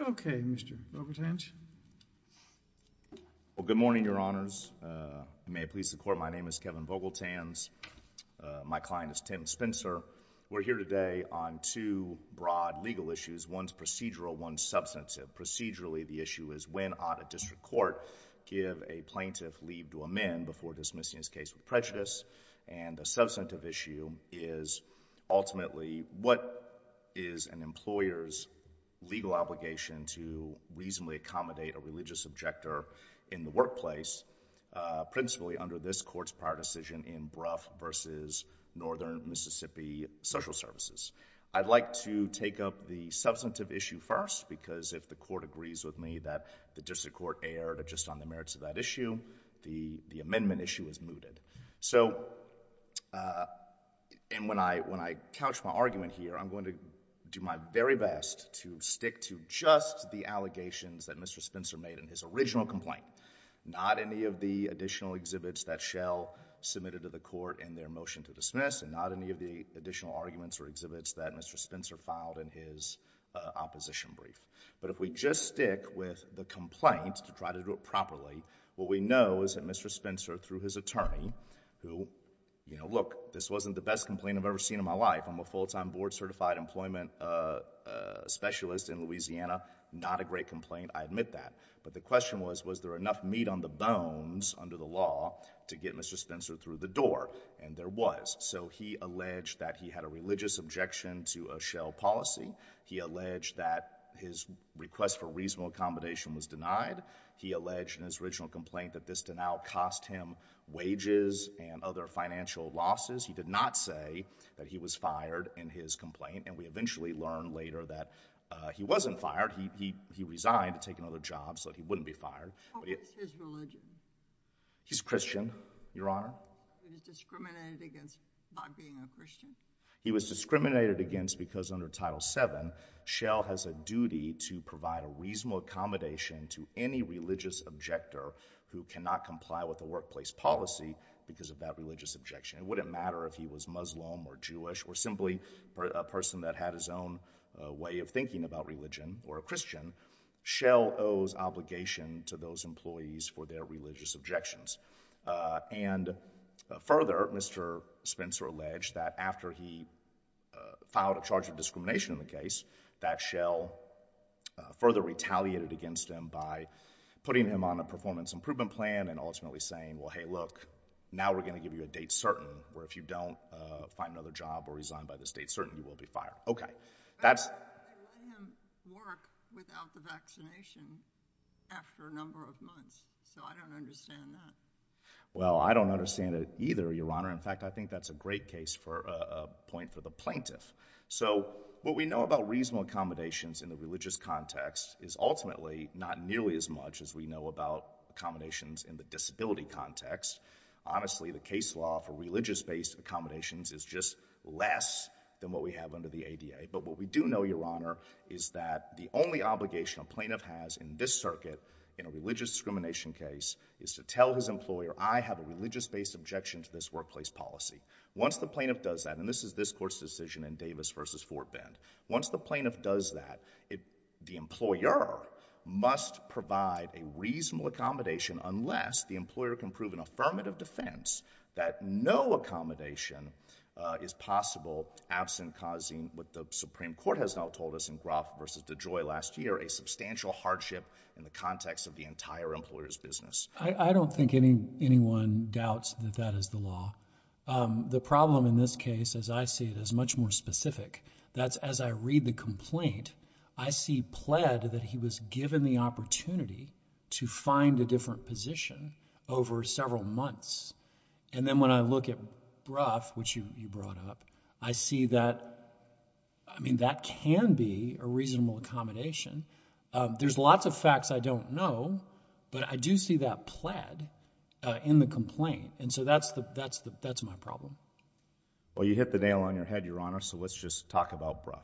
Okay, Mr. Vogeltans. Well, good morning, Your Honors. May it please the Court, my name is Kevin Vogeltans. My client is Tim Spencer. We're here today on two broad legal issues, one's procedural, one's substantive. Procedurally, the issue is when ought a district court give a plaintiff leave to amend before dismissing his case with prejudice, and the substantive issue is ultimately what is an employer's legal obligation to reasonably accommodate a religious objector in the workplace, principally under this Court's prior decision in Brough v. Northern Mississippi Social Services. I'd like to take up the substantive issue first because if the Court agrees with me that the district court erred just on the merits of that issue, the amendment issue is mooted. So, and when I couch my argument here, I'm going to do my very best to stick to just the allegations that Mr. Spencer made in his original complaint, not any of the additional exhibits that Shell submitted to the Court in their motion to dismiss, and not any of the additional arguments or exhibits that Mr. Spencer filed in his opposition brief. But if we just stick with the complaint to try to do it properly, what we know is that Mr. Spencer, through his attorney, who, you know, look, this wasn't the best complaint I've ever seen in my life. I'm a full-time board-certified employment specialist in Louisiana, not a great complaint, I admit that. But the question was, was there enough meat on the bones under the law to get Mr. Spencer through the door? And there was. So he alleged that he had a religious objection to a Shell policy. He alleged that his request for reasonable accommodation was denied. He alleged in his original complaint that this denial cost him wages and other financial losses. He did not say that he was fired in his complaint, and we eventually learned later that he wasn't fired. He resigned to take another job so that he wouldn't be fired. What was his religion? He's Christian, Your Honor. He was discriminated against by being a Christian? He was discriminated against because under Title VII, Shell has a duty to provide a reasonable accommodation to any religious objector who cannot comply with the workplace policy because of that religious objection. It wouldn't matter if he was Muslim or Jewish or simply a person that had his own way of thinking about religion or a Christian. Shell owes obligation to those employees for their religious objections. And further, Mr. Spencer alleged that after he filed a charge of discrimination in the case, that Shell further retaliated against him by putting him on a performance improvement plan and ultimately saying, well, hey, look, now we're going to give you a date certain, where if you don't find another job or resign by this date certain, you will be fired. Okay. That's... But I let him work without the vaccination after a number of months, so I don't understand that. Well, I don't understand it either, Your Honor. In fact, I think that's a great case for a point for the plaintiff. So what we know about reasonable accommodations in the religious context is ultimately not nearly as much as we know about accommodations in the disability context. Honestly, the case law for religious-based accommodations is just less than what we have under the ADA. But what we do know, Your Honor, is that the only obligation a plaintiff has in this circuit in a religious discrimination case is to tell his employer, I have a religious-based objection to this workplace policy. Once the plaintiff does that, and this is this court's decision in Davis v. Fort Bend, once the plaintiff does that, the employer must provide a reasonable accommodation unless the employer can prove in affirmative defense that no accommodation is possible absent causing what the Supreme Court has now told us in Groff v. DeJoy last year, a substantial hardship in the context of the entire employer's business. I don't think anyone doubts that that is the law. The problem in this case, as I see it, is much more specific. That's as I read the complaint, I see pled that he was given the opportunity to find a different position over several months. And then when I look at Brough, which you brought up, I see that, I mean, that can be a reasonable accommodation. There's lots of facts I don't know, but I do see that pled in the complaint. And so that's my problem. Well, you hit the nail on your head, Your Honor, so let's just talk about Brough.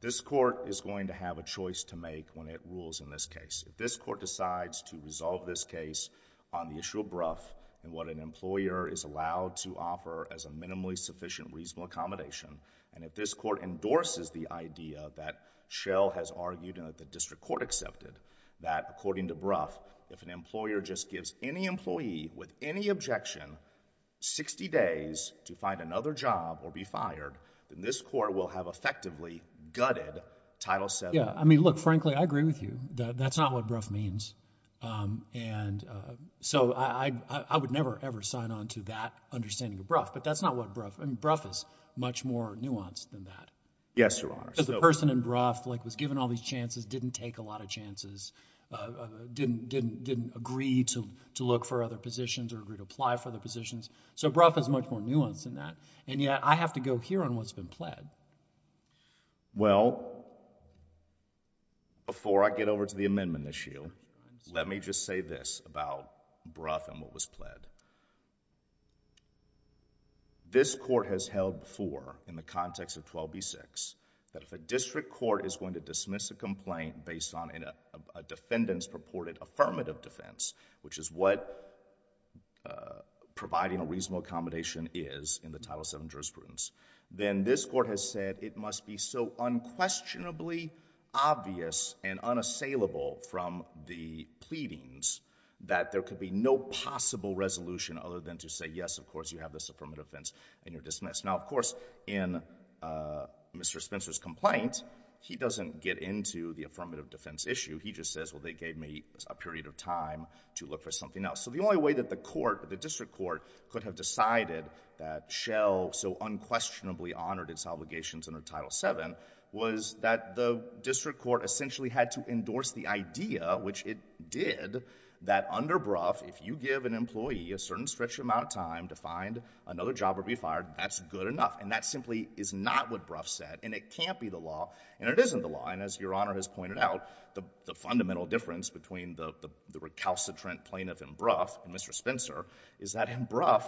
This court is going to have a choice to make when it rules in this case. If this court decides to resolve this case on the issue of Brough and what an employer is allowed to offer as a minimally sufficient reasonable accommodation, and if this court endorses the idea that Schell has argued and that the district court accepted that, according to Brough, if an employer just gives any employee with any objection sixty days to find another job or be fired, then this court will have effectively gutted Title VII. Yeah. I mean, look, frankly, I agree with you. That's not what Brough means. And so I would never, ever sign on to that understanding of Brough. But that's not what Brough, I mean, Brough is much more nuanced than that. Yes, Your Honor. Because the person in Brough, like, was given all these chances, didn't take a lot of chances, didn't agree to look for other positions or agree to apply for the positions. So Brough is much more nuanced than that. And yet, I have to go here on what's been pled. Well, before I get over to the amendment issue, let me just say this about Brough and what was pled. This court has held for, in the context of 12b-6, that if a district court is going to dismiss a complaint based on a defendant's purported affirmative defense, which is what providing a reasonable accommodation is in the Title VII jurisprudence, then this court has said it must be so unquestionably obvious and unassailable from the pleadings that there could be no possible resolution other than to say, yes, of course, you have this affirmative defense and you're dismissed. Now, of course, in Mr. Spencer's complaint, he doesn't get into the affirmative defense issue. He just says, well, they gave me a period of time to look for something else. So the only way that the court, the district court, could have decided that Shell so unquestionably honored its obligations under Title VII was that the district court essentially had to endorse the idea, which it did, that under Brough, if you give an employee a certain stretched amount of time to find another job or be fired, that's good enough. And that simply is not what Brough said. And it can't be the law. And it isn't the law. And as Your Honor has pointed out, the fundamental difference between the recalcitrant plaintiff in Brough and Mr. Spencer is that in Brough,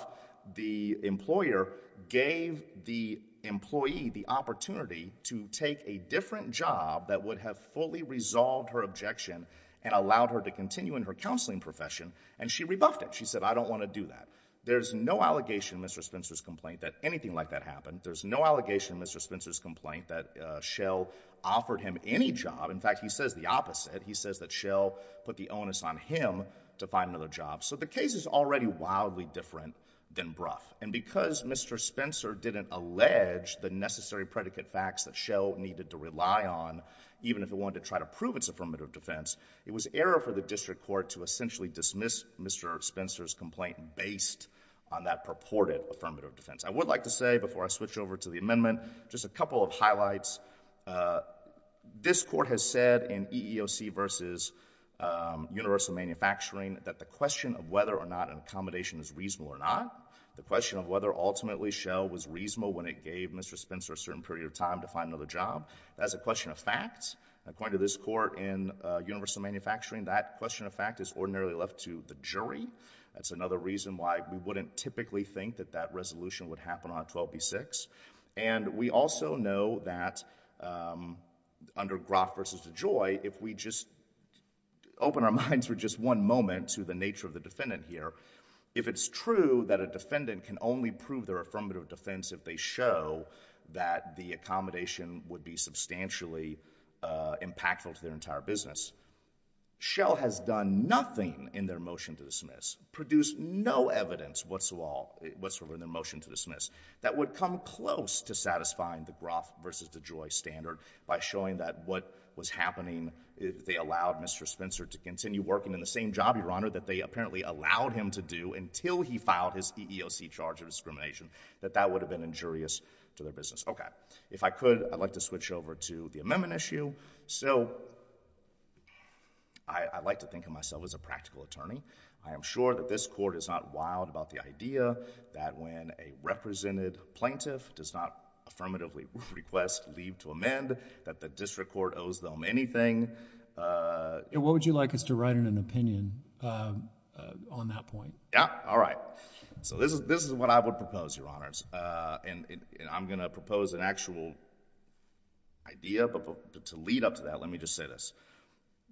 the employer gave the employee the opportunity to take a different job that would have fully resolved her objection and allowed her to continue in her counseling profession. And she rebuffed it. She said, I don't want to do that. There's no allegation in Mr. Spencer's complaint that anything like that happened. There's no allegation in Mr. Spencer's complaint that Shell offered him any job. In fact, he says the opposite. He says that Shell put the onus on him to find another job. So the case is already wildly different than Brough. And because Mr. Spencer didn't allege the necessary predicate facts that Shell needed to rely on, even if it wanted to try to prove its affirmative defense, it was error for the district court to essentially dismiss Mr. Spencer's complaint based on that purported affirmative defense. I would like to say before I switch over to the amendment, just a couple of highlights. This court has said in EEOC v. Universal Manufacturing that the question of whether or not an accommodation is reasonable or not, the question of whether ultimately Shell was reasonable when it gave Mr. Spencer a certain period of time to find another job, that's a question of fact. According to this court in Universal Manufacturing, that question of fact is ordinarily left to the jury. That's another reason why we wouldn't typically think that that resolution would happen on 12b-6. And we also know that under Brough v. DeJoy, if we just open our minds for just one moment to the nature of the defendant here, if it's true that a defendant can only prove their affirmative defense if they show that the accommodation would be substantially impactful to their entire business, Shell has done nothing in their motion to dismiss, produced no evidence whatsoever in their motion to dismiss, that would come close to satisfying the Brough v. DeJoy standard by showing that what was happening, if they allowed Mr. Spencer to continue working in the same job, Your Honor, that they apparently allowed him to do until he filed his EEOC charge of discrimination, that that would have been injurious to their business. Okay. If I could, I'd like to switch over to the amendment issue. So I like to think of myself as a practical attorney. I am sure that this court is not wild about the idea that when a represented plaintiff does not affirmatively request leave to amend, that the district court owes them anything. And what would you like us to write in an opinion on that point? Yeah. All right. So this is what I would propose, Your Honors. And I'm going to propose an actual idea, but to lead up to that, let me just say this.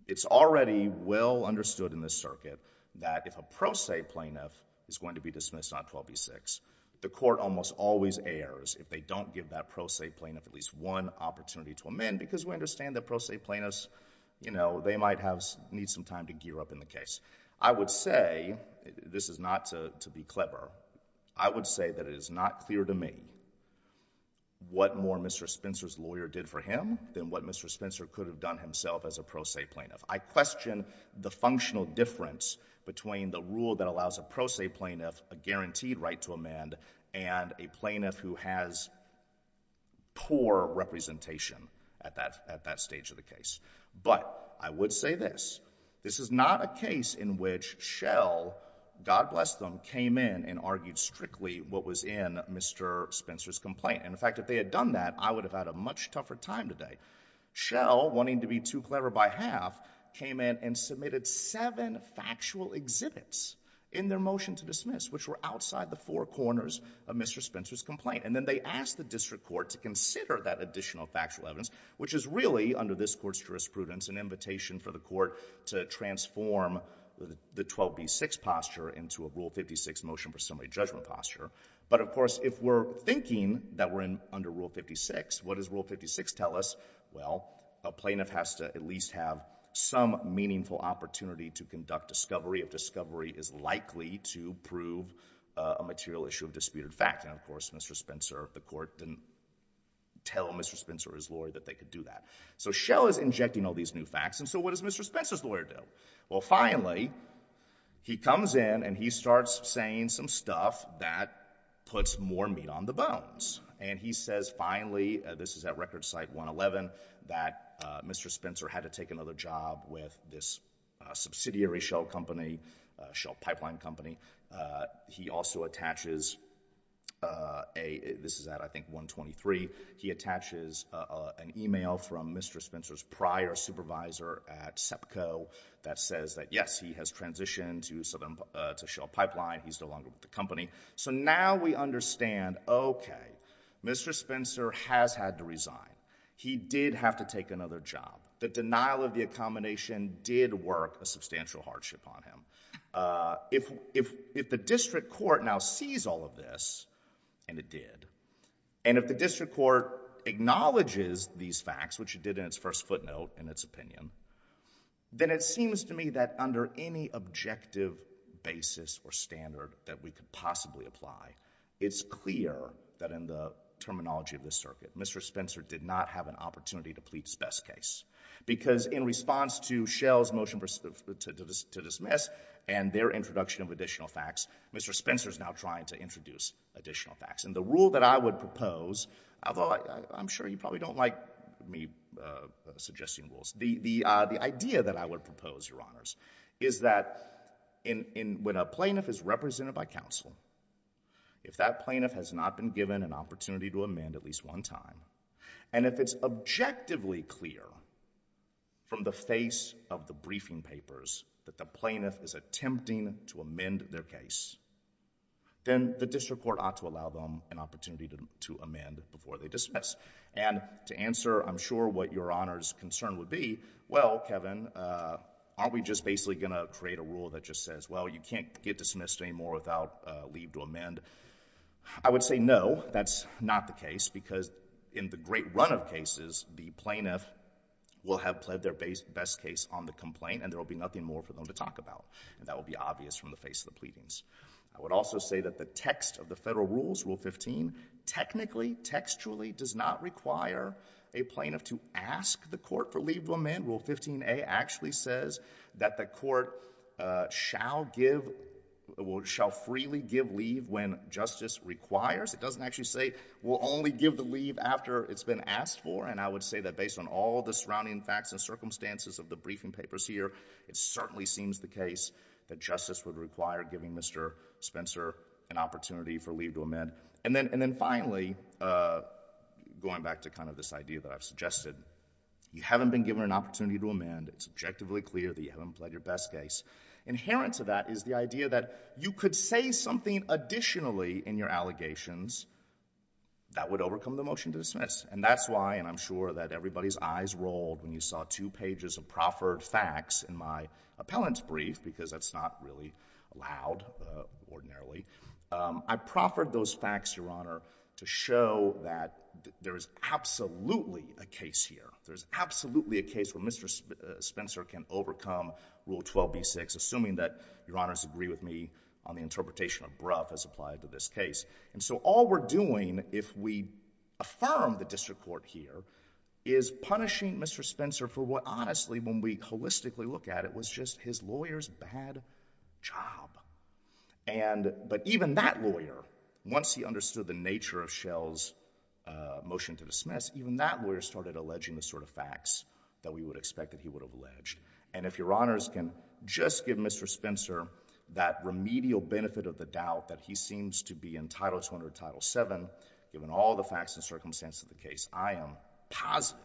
It's already well understood in this circuit that if a pro se plaintiff is going to be dismissed on 12 v. 6, the court almost always errs if they don't give that pro se plaintiff at least one opportunity to amend, because we understand that pro se plaintiffs, you know, they might need some time to gear up in the case. I would say, this is not to be clever, I would say that it is not clear to me what more Mr. Spencer's lawyer did for him than what Mr. Spencer could have done himself as a pro se plaintiff. I question the functional difference between the rule that allows a pro se plaintiff a guaranteed right to amend and a plaintiff who has poor representation at that stage of the case. But I would say this. This is not a case in which Shell, God bless them, came in and argued strictly what was in Mr. Spencer's complaint. And in fact, if they had done that, I would have had a much tougher time today. Shell, wanting to be too clever by half, came in and submitted seven factual exhibits in their motion to dismiss, which were outside the four corners of Mr. Spencer's complaint. And then they asked the district court to consider that additional factual evidence, which is really, under this court's jurisprudence, an invitation for the court to transform the 12b6 posture into a Rule 56 motion for summary judgment posture. But of course, if we're thinking that we're under Rule 56, what does Rule 56 tell us? Well, a plaintiff has to at least have some meaningful opportunity to conduct discovery if discovery is likely to prove a material issue of disputed fact. And of course, Mr. Spencer, the court didn't tell Mr. Spencer, his lawyer, that they could do that. So Shell is injecting all these new facts. And so what does Mr. Spencer's lawyer do? Well, finally, he comes in and he starts saying some stuff that puts more meat on the bones. And he says, finally—this is at record site 111—that Mr. Spencer had to take another job with this subsidiary Shell company, Shell Pipeline Company. He also attaches a—this is at, I think, Mr. Spencer's prior supervisor at SEPCO—that says that, yes, he has transitioned to Shell Pipeline. He's no longer with the company. So now we understand, okay, Mr. Spencer has had to resign. He did have to take another job. The denial of the accommodation did work a substantial hardship on him. If the district court now sees all of this—and it did—and if the district court acknowledges these facts, which it did in its first footnote in its opinion, then it seems to me that under any objective basis or standard that we could possibly apply, it's clear that in the terminology of this circuit, Mr. Spencer did not have an opportunity to plead his best case. Because in response to Shell's motion to dismiss and their introduction of additional facts, Mr. Spencer's now trying to introduce additional facts. And the rule that I would propose, although I'm sure you probably don't like me suggesting rules, the idea that I would propose, Your Honors, is that when a plaintiff is represented by counsel, if that plaintiff has not been given an opportunity to amend at least one time, and if it's objectively clear from the face of the briefing papers that the plaintiff is attempting to amend their case, then the district court ought to allow them an opportunity to amend before they dismiss. And to answer, I'm sure, what Your Honors' concern would be, well, Kevin, aren't we just basically going to create a rule that just says, well, you can't get dismissed anymore without leave to amend? I would say no, that's not the case, because in the great run of cases, the plaintiff will have pled their best case on the complaint and there will be nothing more for I would also say that the text of the federal rules, Rule 15, technically, textually does not require a plaintiff to ask the court for leave to amend. Rule 15a actually says that the court shall freely give leave when justice requires. It doesn't actually say, we'll only give the leave after it's been asked for. And I would say that based on all the surrounding facts and circumstances of the briefing papers here, it certainly seems the case that justice would require giving Mr. Spencer an opportunity for leave to amend. And then finally, going back to kind of this idea that I've suggested, you haven't been given an opportunity to amend. It's objectively clear that you haven't pled your best case. Inherent to that is the idea that you could say something additionally in your allegations that would overcome the motion to dismiss. And that's why, and I'm sure that everybody's eyes rolled when you saw two pages of proffered facts in my appellant's brief, because that's not really allowed ordinarily. I proffered those facts, Your Honor, to show that there is absolutely a case here. There's absolutely a case where Mr. Spencer can overcome Rule 12b-6, assuming that Your Honor's agree with me on the interpretation of Brough as applied to this case. And so all we're doing, if we affirm the district court here, is punishing Mr. Spencer for what honestly, when we holistically look at it, was just his lawyer's bad job. But even that lawyer, once he understood the nature of Schell's motion to dismiss, even that lawyer started alleging the sort of facts that we would expect that he would have alleged. And if Your Honors can just give Mr. Spencer that remedial benefit of the doubt that he seems to be in Title 200 or Title VII, given all the facts and circumstances of the case, I am positive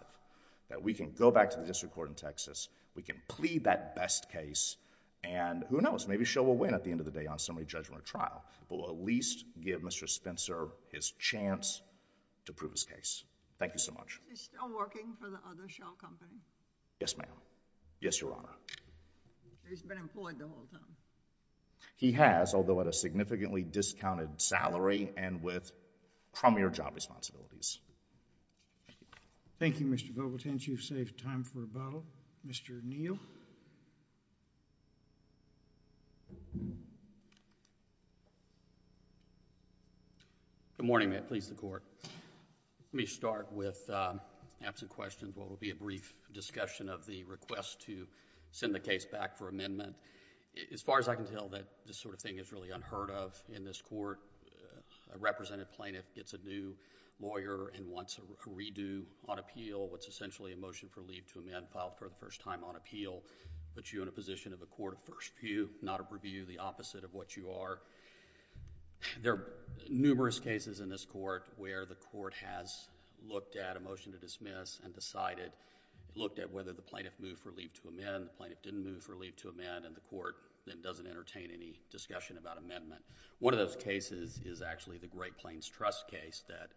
that we can go back to the district court in Texas, we can plead that best case, and who knows, maybe Schell will win at the end of the day on summary judgment or trial. But we'll at least give Mr. Spencer his chance to prove his case. Thank you so much. Is he still working for the other Schell company? Yes, ma'am. Yes, Your Honor. He's been employed the whole time? He has, although at a significantly discounted salary and with premier job responsibilities. Thank you, Mr. Vogelt. And you've saved time for rebuttal. Mr. Neal? Good morning, ma'am. Please, the Court. Let me start with absent questions, what will be a brief discussion of the request to send the case back for amendment. As far as I can tell that this sort of thing is really unheard of in this Court. A representative plaintiff gets a new lawyer and wants a redo on appeal. It's essentially a motion for leave to amend filed for the first time on appeal, but you're in a position of a court of first view, not of review, the opposite of what you are. There are numerous cases in this Court where the Court has looked at a motion to dismiss and decided, looked at whether the plaintiff moved for leave to amend, the plaintiff didn't move for leave to amend and the Court then doesn't entertain any discussion about amendment. One of those cases is actually the Great Plains Trust case that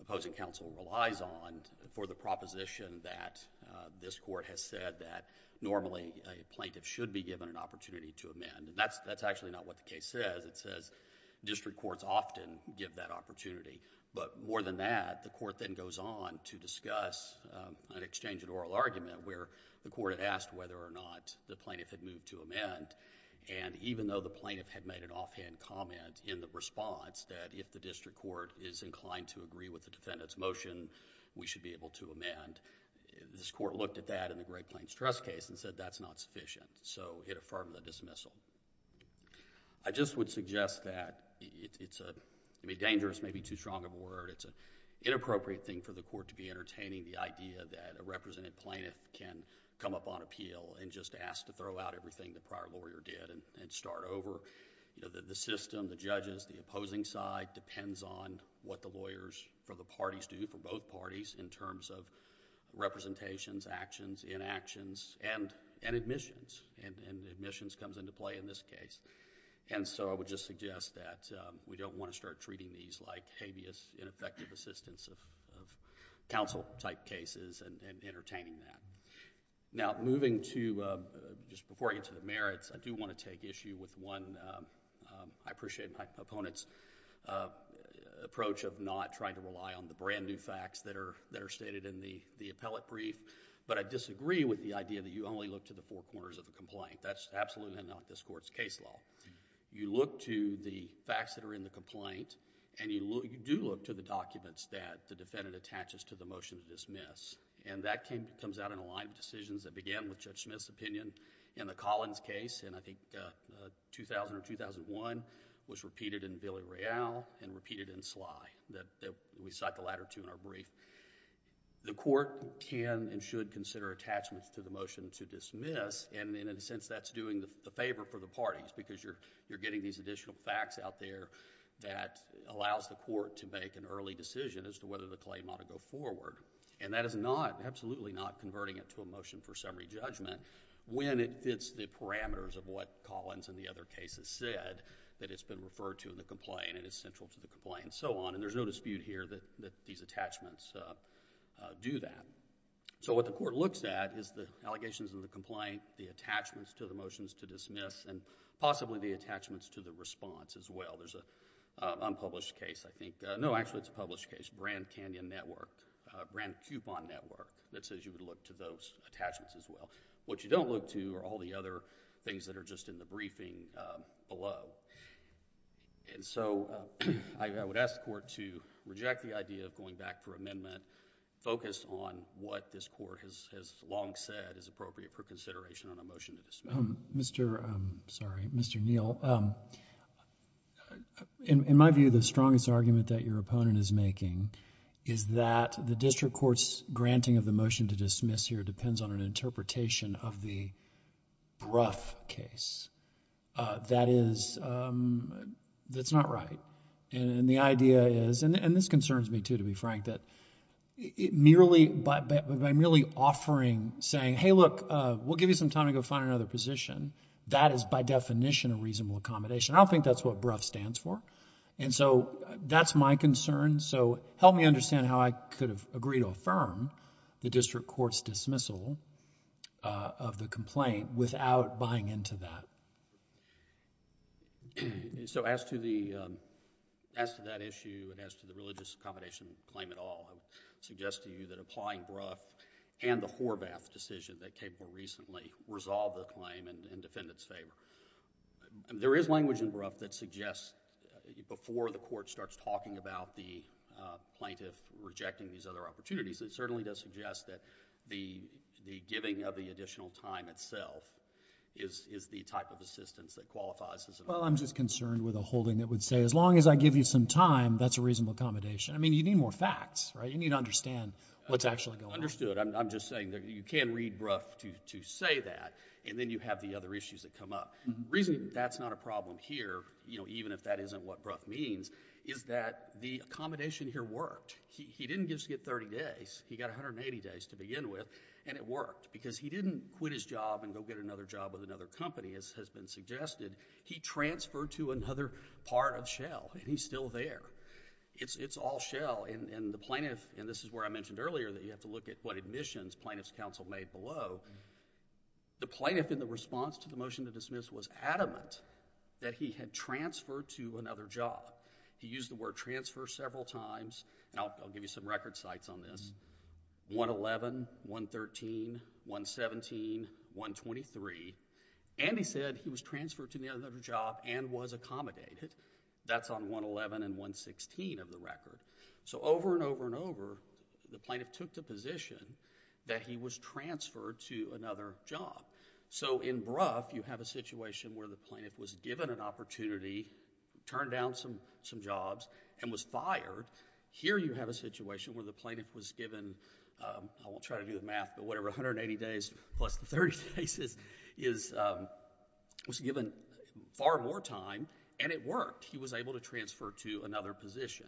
opposing counsel relies on for the proposition that this Court has said that normally a plaintiff should be given an opportunity to amend. That's actually not what the case says. It says district courts often give that opportunity, but more than that, the Court then goes on to discuss an exchange in oral argument where the Court had asked whether or not the plaintiff had moved to amend and even though the plaintiff had made an offhand comment in the response that if the district court is inclined to agree with the defendant's motion, we should be able to amend, this Court looked at that in the Great Plains Trust case and said that's not sufficient, so it affirmed the dismissal. I just would suggest that it's a dangerous, maybe too strong of a word, it's an inappropriate thing for the Court to be entertaining the idea that a represented plaintiff can come up on appeal and just ask to throw out everything the prior lawyer did and start over. The system, the judges, the opposing side depends on what the lawyers for the parties do, for both parties in terms of representations, actions, inactions, and admissions, and admissions comes into play in this case, and so I would just suggest that we don't want to start treating these like habeas, ineffective assistance of counsel type cases and entertaining that. Now, moving to, just before I get to the merits, I do want to take issue with one, I appreciate my opponent's approach of not trying to rely on the brand new facts that are stated in the appellate brief, but I disagree with the idea that you only look to the four corners of the complaint. That's absolutely not this Court's case law. You look to the facts that are in the complaint, and you do look to the documents that the defendant attaches to the motion to dismiss, and that comes out in a line of decisions that began with Judge Smith's opinion in the Collins case, and I think 2000 or 2001, was repeated in Billy Royale and repeated in Sly, that we cite the latter two in our brief. The Court can and should consider attachments to the motion to dismiss, and in a sense that's doing the favor for the parties because you're getting these additional facts out there that allows the Court to make an early decision as to whether the claim ought to go forward, and that is not, absolutely not, converting it to a motion for summary judgment when it fits the parameters of what Collins and the other cases said that it's been referred to in the complaint and is central to the complaint and so on, and there's no dispute here that these attachments do that. So what the Court looks at is the allegations in the complaint, the attachments to the motions to dismiss, and possibly the attachments to the response as well. There's a unpublished case, I think, no, actually it's a published case, Brand Canyon Network, Brand Coupon Network, that says you would look to those attachments as well. What you don't look to are all the other things that are just in the briefing below, and so I would ask the Court to reject the idea of going back for amendment, focus on what this Court has long said is appropriate for consideration on a motion to dismiss. Mr., sorry, Mr. Neal, in my view, the strongest argument that your opponent is making is that the district court's granting of the motion to dismiss here depends on an interpretation of the BRUF case. That is... that's not right, and the idea is, and this concerns me too, to be frank, that by merely offering, saying, hey look, we'll give you some time to go find another position, that is by definition a reasonable accommodation. I don't think that's what BRUF stands for, and so that's my concern, so help me understand how I could have agreed to affirm the district court's dismissal of the complaint without buying into that. So as to that issue and as to the religious accommodation claim at all, I would suggest to you that applying BRUF and the Horvath decision that came more recently resolve the claim in defendant's favor. There is language in BRUF that suggests before the Court starts talking about the plaintiff rejecting these other opportunities, it certainly does suggest that the giving of the additional time itself is the type of assistance that qualifies as... Well, I'm just concerned with a holding that would say as long as I give you some time, that's a reasonable accommodation. I mean, you need more facts, right? You need to understand what's actually going on. Understood. I'm just saying that you can read BRUF to say that, and then you have the other issues that come up. The reason that's not a problem here, you know, even if that isn't what BRUF means, is that the accommodation here worked. He didn't just get 30 days, he got 180 days to begin with, and it worked, because he didn't quit his job and go get another job with another company, as has been suggested. He transferred to another part of Shell, and he's still there. It's all Shell, and the plaintiff... and this is where I mentioned earlier that you have to look at what admissions plaintiff's counsel made below. The plaintiff in the response to the motion to dismiss was adamant that he had transferred to another job. He used the word transfer several times, and I'll give you some record sites on this, 111, 113, 117, 123, and he said he was transferred to another job and was accommodated. That's on 111 and 116 of the record. So, over and over and over, the plaintiff took the position that he was transferred to another job. So, in BRUF, you have a situation where the plaintiff was given an opportunity, turned down some jobs, and was fired. Here you have a situation where the plaintiff was given... I won't try to do the math, but whatever, 180 days plus the 30 days is... was given far more time, and it worked. He was able to transfer to another position.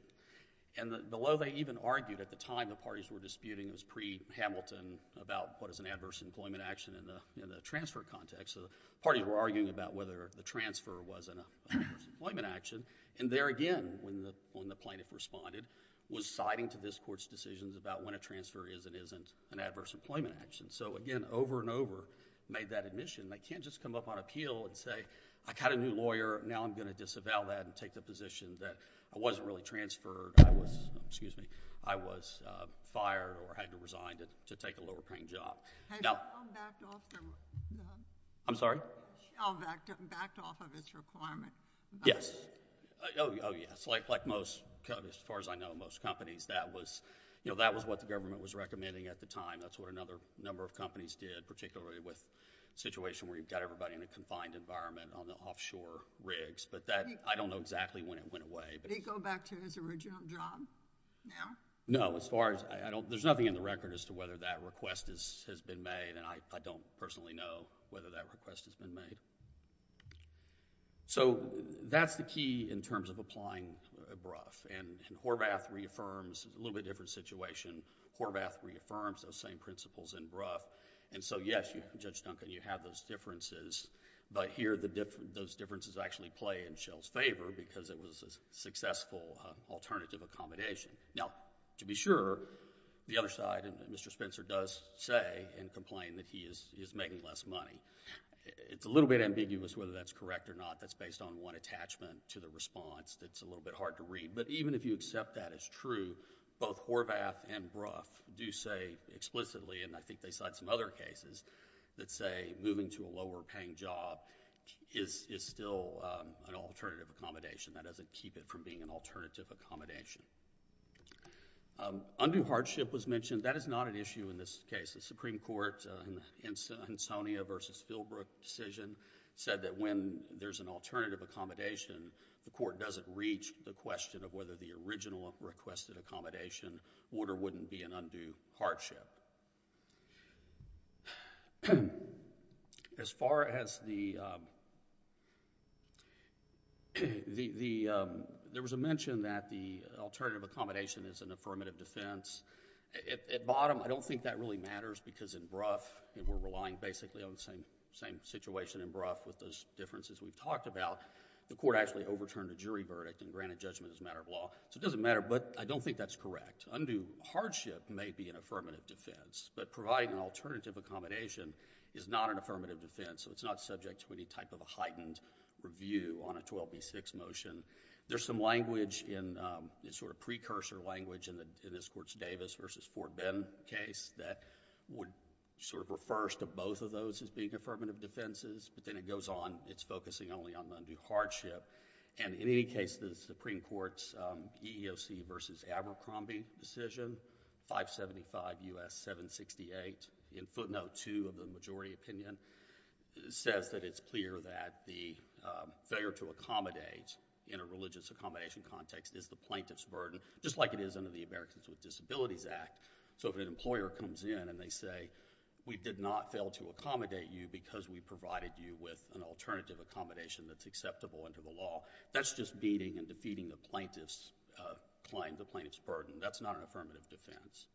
And below they even argued at the time the parties were disputing, it was pre-Hamilton, about what is an adverse employment action in the transfer context. So, the parties were arguing about whether the transfer was an adverse employment action, and there again, when the plaintiff responded, was citing to this Court's decisions about when a transfer is and isn't an adverse employment action. So, again, over and over, made that admission. They can't just come up on appeal and say, I got a new lawyer, now I'm going to disavow that and take the position that I wasn't really transferred, I was fired or had to resign to take a lower paying job. Had Shell backed off of its requirement? Yes. Oh, yes. Like most... as far as I know, most companies, that was what the government was recommending at the time. That's what another number of companies did, particularly with a situation where you've got everybody in a confined environment on the offshore rigs. But that... I don't know exactly when it went away. Did he go back to his original job now? No, as far as... there's nothing in the record as to whether that request has been made, and I don't personally know whether that request has been made. So, that's the key in terms of applying a BRUF, and Horvath reaffirms a little bit different situation. Horvath reaffirms those same principles in BRUF, and so, yes, Judge Duncan, you have those differences, but here those differences actually play in Shell's favor because it was a successful alternative accommodation. Now, to be sure, the other side, Mr. Spencer, does say and complain that he is making less money. It's a little bit ambiguous whether that's correct or not. That's based on one attachment to the response that's a little bit hard to read, but even if you accept that as true, both Horvath and BRUF do say explicitly, and I think they cite some other cases that say moving to a lower-paying job is still an alternative accommodation. That doesn't keep it from being an alternative accommodation. Undue hardship was mentioned. That is not an issue in this case. The Supreme Court, in the Hinsonia v. Spielbrook decision, said that when there's an alternative accommodation, the court doesn't reach the question of whether the original requested accommodation would or wouldn't be an undue hardship. As far as the... there was a mention that the alternative accommodation is an affirmative defense. At bottom, I don't think that really matters because in BRUF, we're relying basically on the same situation in BRUF with those differences we've talked about. The court actually overturned a jury verdict and granted judgment as a matter of law. It doesn't matter, but I don't think that's correct. Undue hardship may be an affirmative defense, but providing an alternative accommodation is not an affirmative defense, so it's not subject to any type of a heightened review on a 12B6 motion. There's some language, sort of precursor language, in this Court's Davis v. Fort Bend case that would sort of refer to both of those as being affirmative defenses, but then it goes on. It's focusing only on undue hardship. In any case, the Supreme Court's EEOC v. Abercrombie decision, 575 U.S. 768, in footnote 2 of the majority opinion, says that it's clear that the failure to accommodate in a religious accommodation context is the plaintiff's burden, just like it is under the Americans with Disabilities Act. If an employer comes in and they say, we did not fail to accommodate you because we provided you with an alternative accommodation that's acceptable under the law, that's just beating and defeating the plaintiff's claim, the plaintiff's burden. That's not an affirmative defense.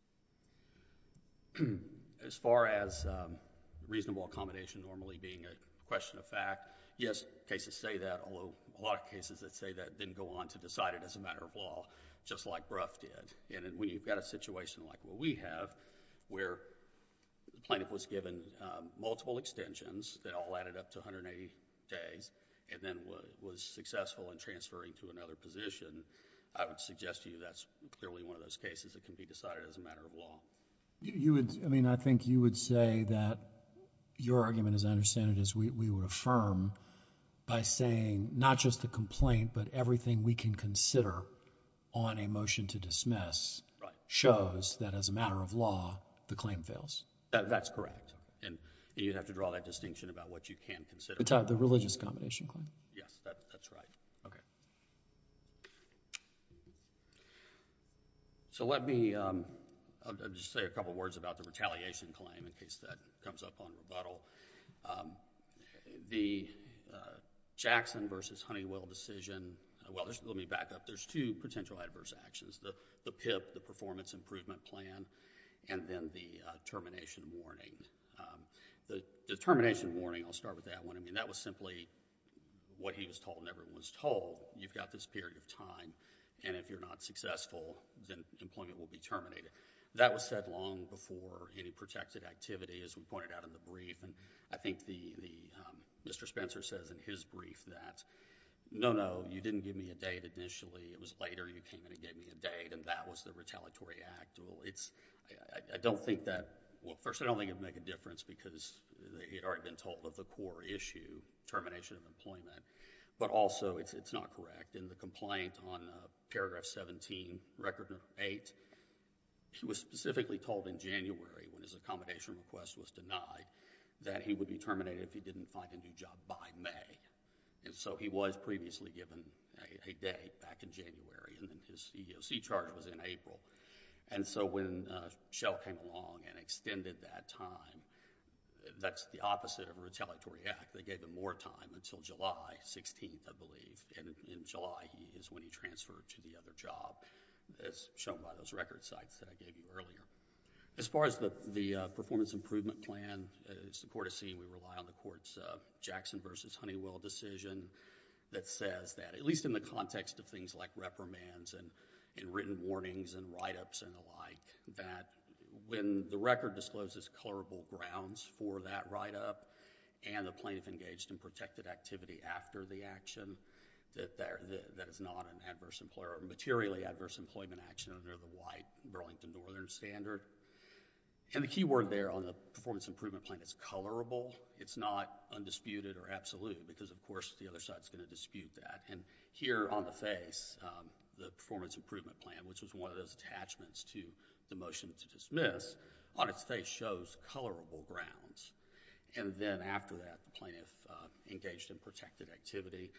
As far as reasonable accommodation normally being a question of fact, yes, cases say that, although a lot of cases that say that didn't go on to decide it as a matter of law, just like Brough did. When you've got a situation like what we have, where the plaintiff was given multiple extensions that all added up to 180 days and then was successful in transferring to another position, I would suggest to you that's clearly one of those cases that can be decided as a matter of law. You would, I mean, I think you would say that your argument, as I understand it, is we would affirm by saying, not just the complaint, but everything we can consider on a motion to dismiss shows that as a matter of law, the claim fails. That's correct. And you'd have to draw that distinction about what you can consider. The religious combination claim. Yes, that's right. So let me just say a couple of words about the retaliation claim in case that comes up on rebuttal. The Jackson versus Honeywell decision, well, let me back up. There's two potential adverse actions, the PIP, the performance improvement plan, and then the termination warning. I'll start with that one. I mean, that was simply what he was told and everyone was told. You've got this period of time, and if you're not successful, then employment will be terminated. That was said long before any protected activity, as we pointed out in the brief. I think Mr. Spencer says in his brief that, no, no, you didn't give me a date initially. It was later you came in and gave me a date, and that was the retaliatory act. I don't think that... well, first, I don't think it would make a difference because he had already been told of the core issue, termination of employment. But also, it's not correct. In the complaint on paragraph 17, record number 8, he was specifically told in January, when his accommodation request was denied, that he would be terminated if he didn't find a new job by May. So he was previously given a date back in January, and his EEOC charge was in April. So when Shell came along and extended that time, that's the opposite of a retaliatory act. They gave him more time until July 16th, I believe. In July, he is when he transferred to the other job, as shown by those record sites that I gave you earlier. As far as the performance improvement plan, it's the court of scene. We rely on the court's Jackson v. Honeywell decision that says that, at least in the context of things like reprimands and written warnings and write-ups and the like, that when the record discloses colorable grounds for that write-up and the plaintiff engaged in protected activity after the action, that it's not a materially adverse employment action under the white Burlington Northern Standard. And the key word there on the performance improvement plan is colorable. It's not undisputed or absolute because, of course, the other judge is going to dispute that. And here on the face, the performance improvement plan, which was one of those attachments to the motion to dismiss, on its face shows colorable grounds. And then after that, the plaintiff engaged in protected activity.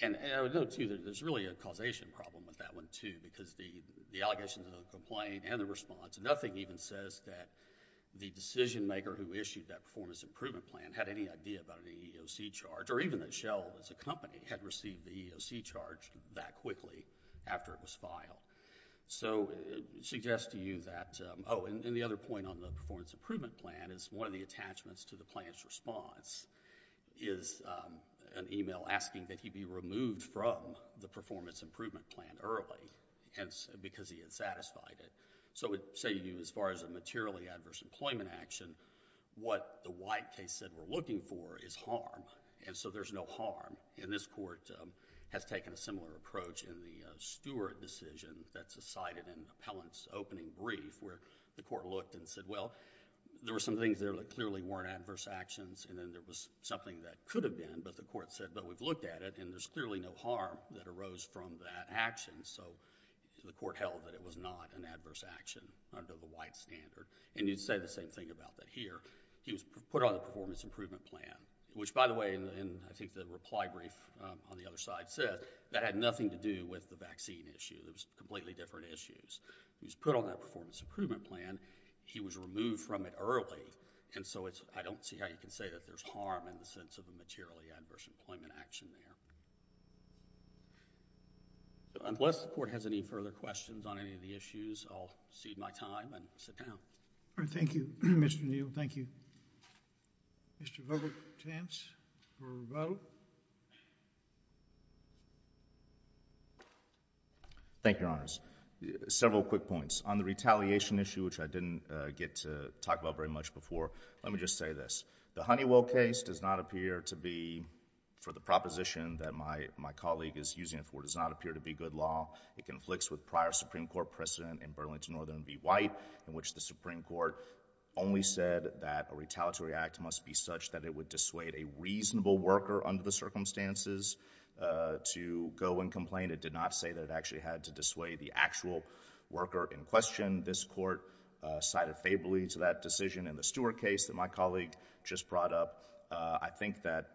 And I would note, too, that there's really a causation problem with that one, too, because the allegations of the complaint and the response, nothing even says that the decision-maker who issued that performance improvement plan had any idea about an EEOC charge, or even that Shell, as a company, had received the EEOC charge that quickly after it was filed. So it suggests to you that... Oh, and the other point on the performance improvement plan is one of the attachments to the plaintiff's response is an email asking that he be removed from the performance improvement plan early because he had satisfied it. So it's saying to you, as far as a materially adverse employment action, what the white case said we're looking for is harm, and so there's no harm. And this court has taken a similar approach in the Stewart decision that's cited in the appellant's opening brief, where the court looked and said, well, there were some things there that clearly weren't adverse actions, and then there was something that could have been, but the court said, but we've looked at it, and there's clearly no harm that arose from that action. So the court held that it was not an adverse action under the white standard. And you'd say the same thing about that here. He was put on the performance improvement plan, which, by the way, in, I think, the reply brief on the other side said, that had nothing to do with the vaccine issue. It was completely different issues. He was put on that performance improvement plan. He was removed from it early, and so I don't see how you can say that there's harm in the sense of a materially adverse employment action there. Unless the court has any further questions on any of the issues, I'll cede my time and sit down. All right. Thank you, Mr. Neal. Thank you. Mr. Verbal Chance for rebuttal. Thank you, Your Honors. Several quick points. On the retaliation issue, which I didn't get to talk about very much before, let me just say this. The Honeywell case does not appear to be, for the proposition that my colleague is using it for, does not appear to be good law. It conflicts with prior Supreme Court precedent in Burlington Northern v. White, in which the Supreme Court only said that a retaliatory act must be such that it would dissuade a reasonable worker under the circumstances to go and complain. It did not say that it actually had to dissuade the actual worker in question. This court sided favorably to that decision in the Stewart case that my colleague just brought up. I think that,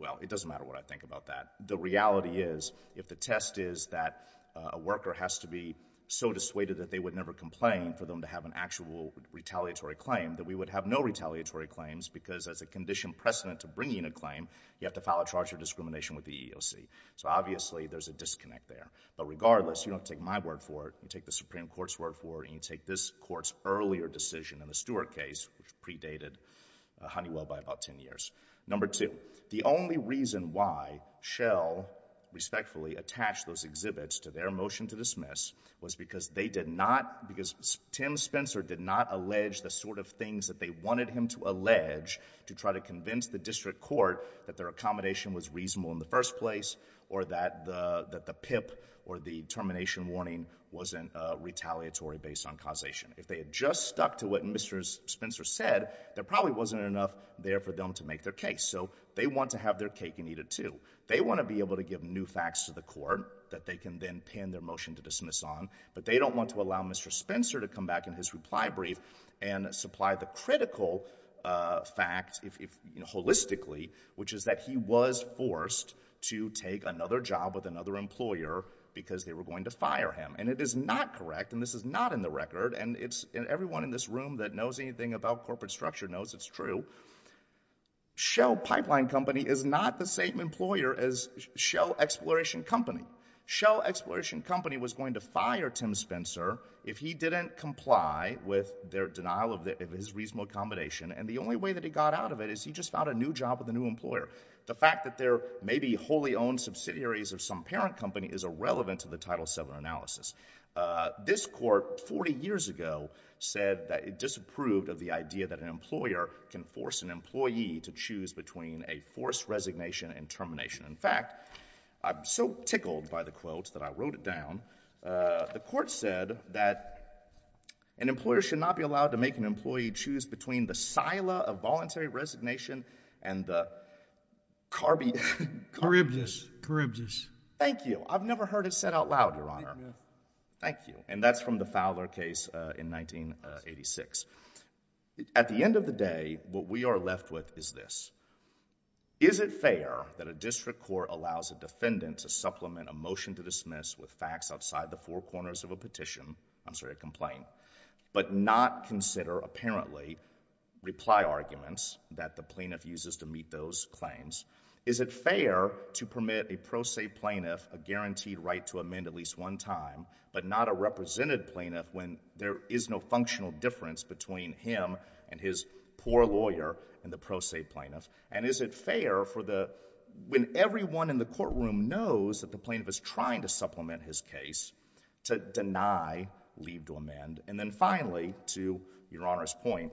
well, it doesn't matter what I think about that. The reality is, if the test is that a worker has to be so dissuaded that they would never complain for them to have an actual retaliatory claim, that we would have no retaliatory claims, because as a conditioned precedent to bringing a claim, you have to file a charge of discrimination with the EEOC. So obviously, there's a disconnect there. But regardless, you don't take my word for it. You take the Supreme Court's word for it, and you take this Court's earlier decision in the Stewart case, which predated Honeywell by about 10 years. Number two, the only reason why Shell respectfully attached those exhibits to their motion to dismiss was because they did not, because Tim Spencer did not allege the sort of things that they wanted him to allege to try to convince the district court that their accommodation was reasonable in the first place or that the PIP or the termination warning wasn't retaliatory based on causation. If they had just stuck to what Mr. Spencer said, there wouldn't have been a case. So they want to have their cake and eat it too. They want to be able to give new facts to the court that they can then pin their motion to dismiss on, but they don't want to allow Mr. Spencer to come back in his reply brief and supply the critical fact, holistically, which is that he was forced to take another job with another employer because they were going to fire him. And it is not correct, and this is not in the record, and everyone in this room that knows anything about corporate structure knows it's true. Shell Pipeline Company is not the same employer as Shell Exploration Company. Shell Exploration Company was going to fire Tim Spencer if he didn't comply with their denial of his reasonable accommodation, and the only way that he got out of it is he just found a new job with a new employer. The fact that they're maybe wholly owned subsidiaries of some parent company is irrelevant to the Title VII analysis. This court, 40 years ago, said that it disapproved of the idea that an employer can force an employee to choose between a forced resignation and termination. In fact, I'm so tickled by the quote that I wrote it down. The court said that an employer should not be allowed to make an employee choose between the sila of voluntary resignation and the carby... Thank you. And that's from the Fowler case in 1986. At the end of the day, what we are left with is this. Is it fair that a district court allows a defendant to supplement a motion to dismiss with facts outside the four corners of a petition—I'm sorry, a complaint—but not consider, apparently, reply arguments that the plaintiff uses to meet those claims? Is it fair to permit a pro se plaintiff a guaranteed right to amend at least one time but not a represented plaintiff when there is no functional difference between him and his poor lawyer and the pro se plaintiff? And is it fair when everyone in the courtroom knows that the plaintiff is trying to supplement his case to deny leave to amend? And then finally, to Your Honor's point,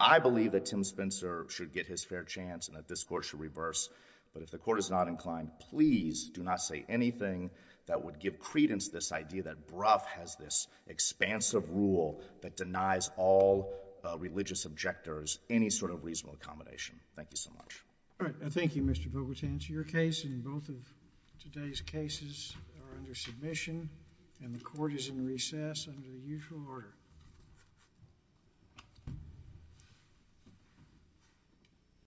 I believe that Tim Spencer should get his fair chance and that this Court should reverse. But if the Court is not inclined, please do not say anything that would give credence to this idea that Brough has this expansive rule that denies all religious objectors any sort of reasonable accommodation. Thank you so much. All right. Thank you, Mr. Vogel. To answer your case, and both of today's cases are under submission, and the Court is in recess under the usual order.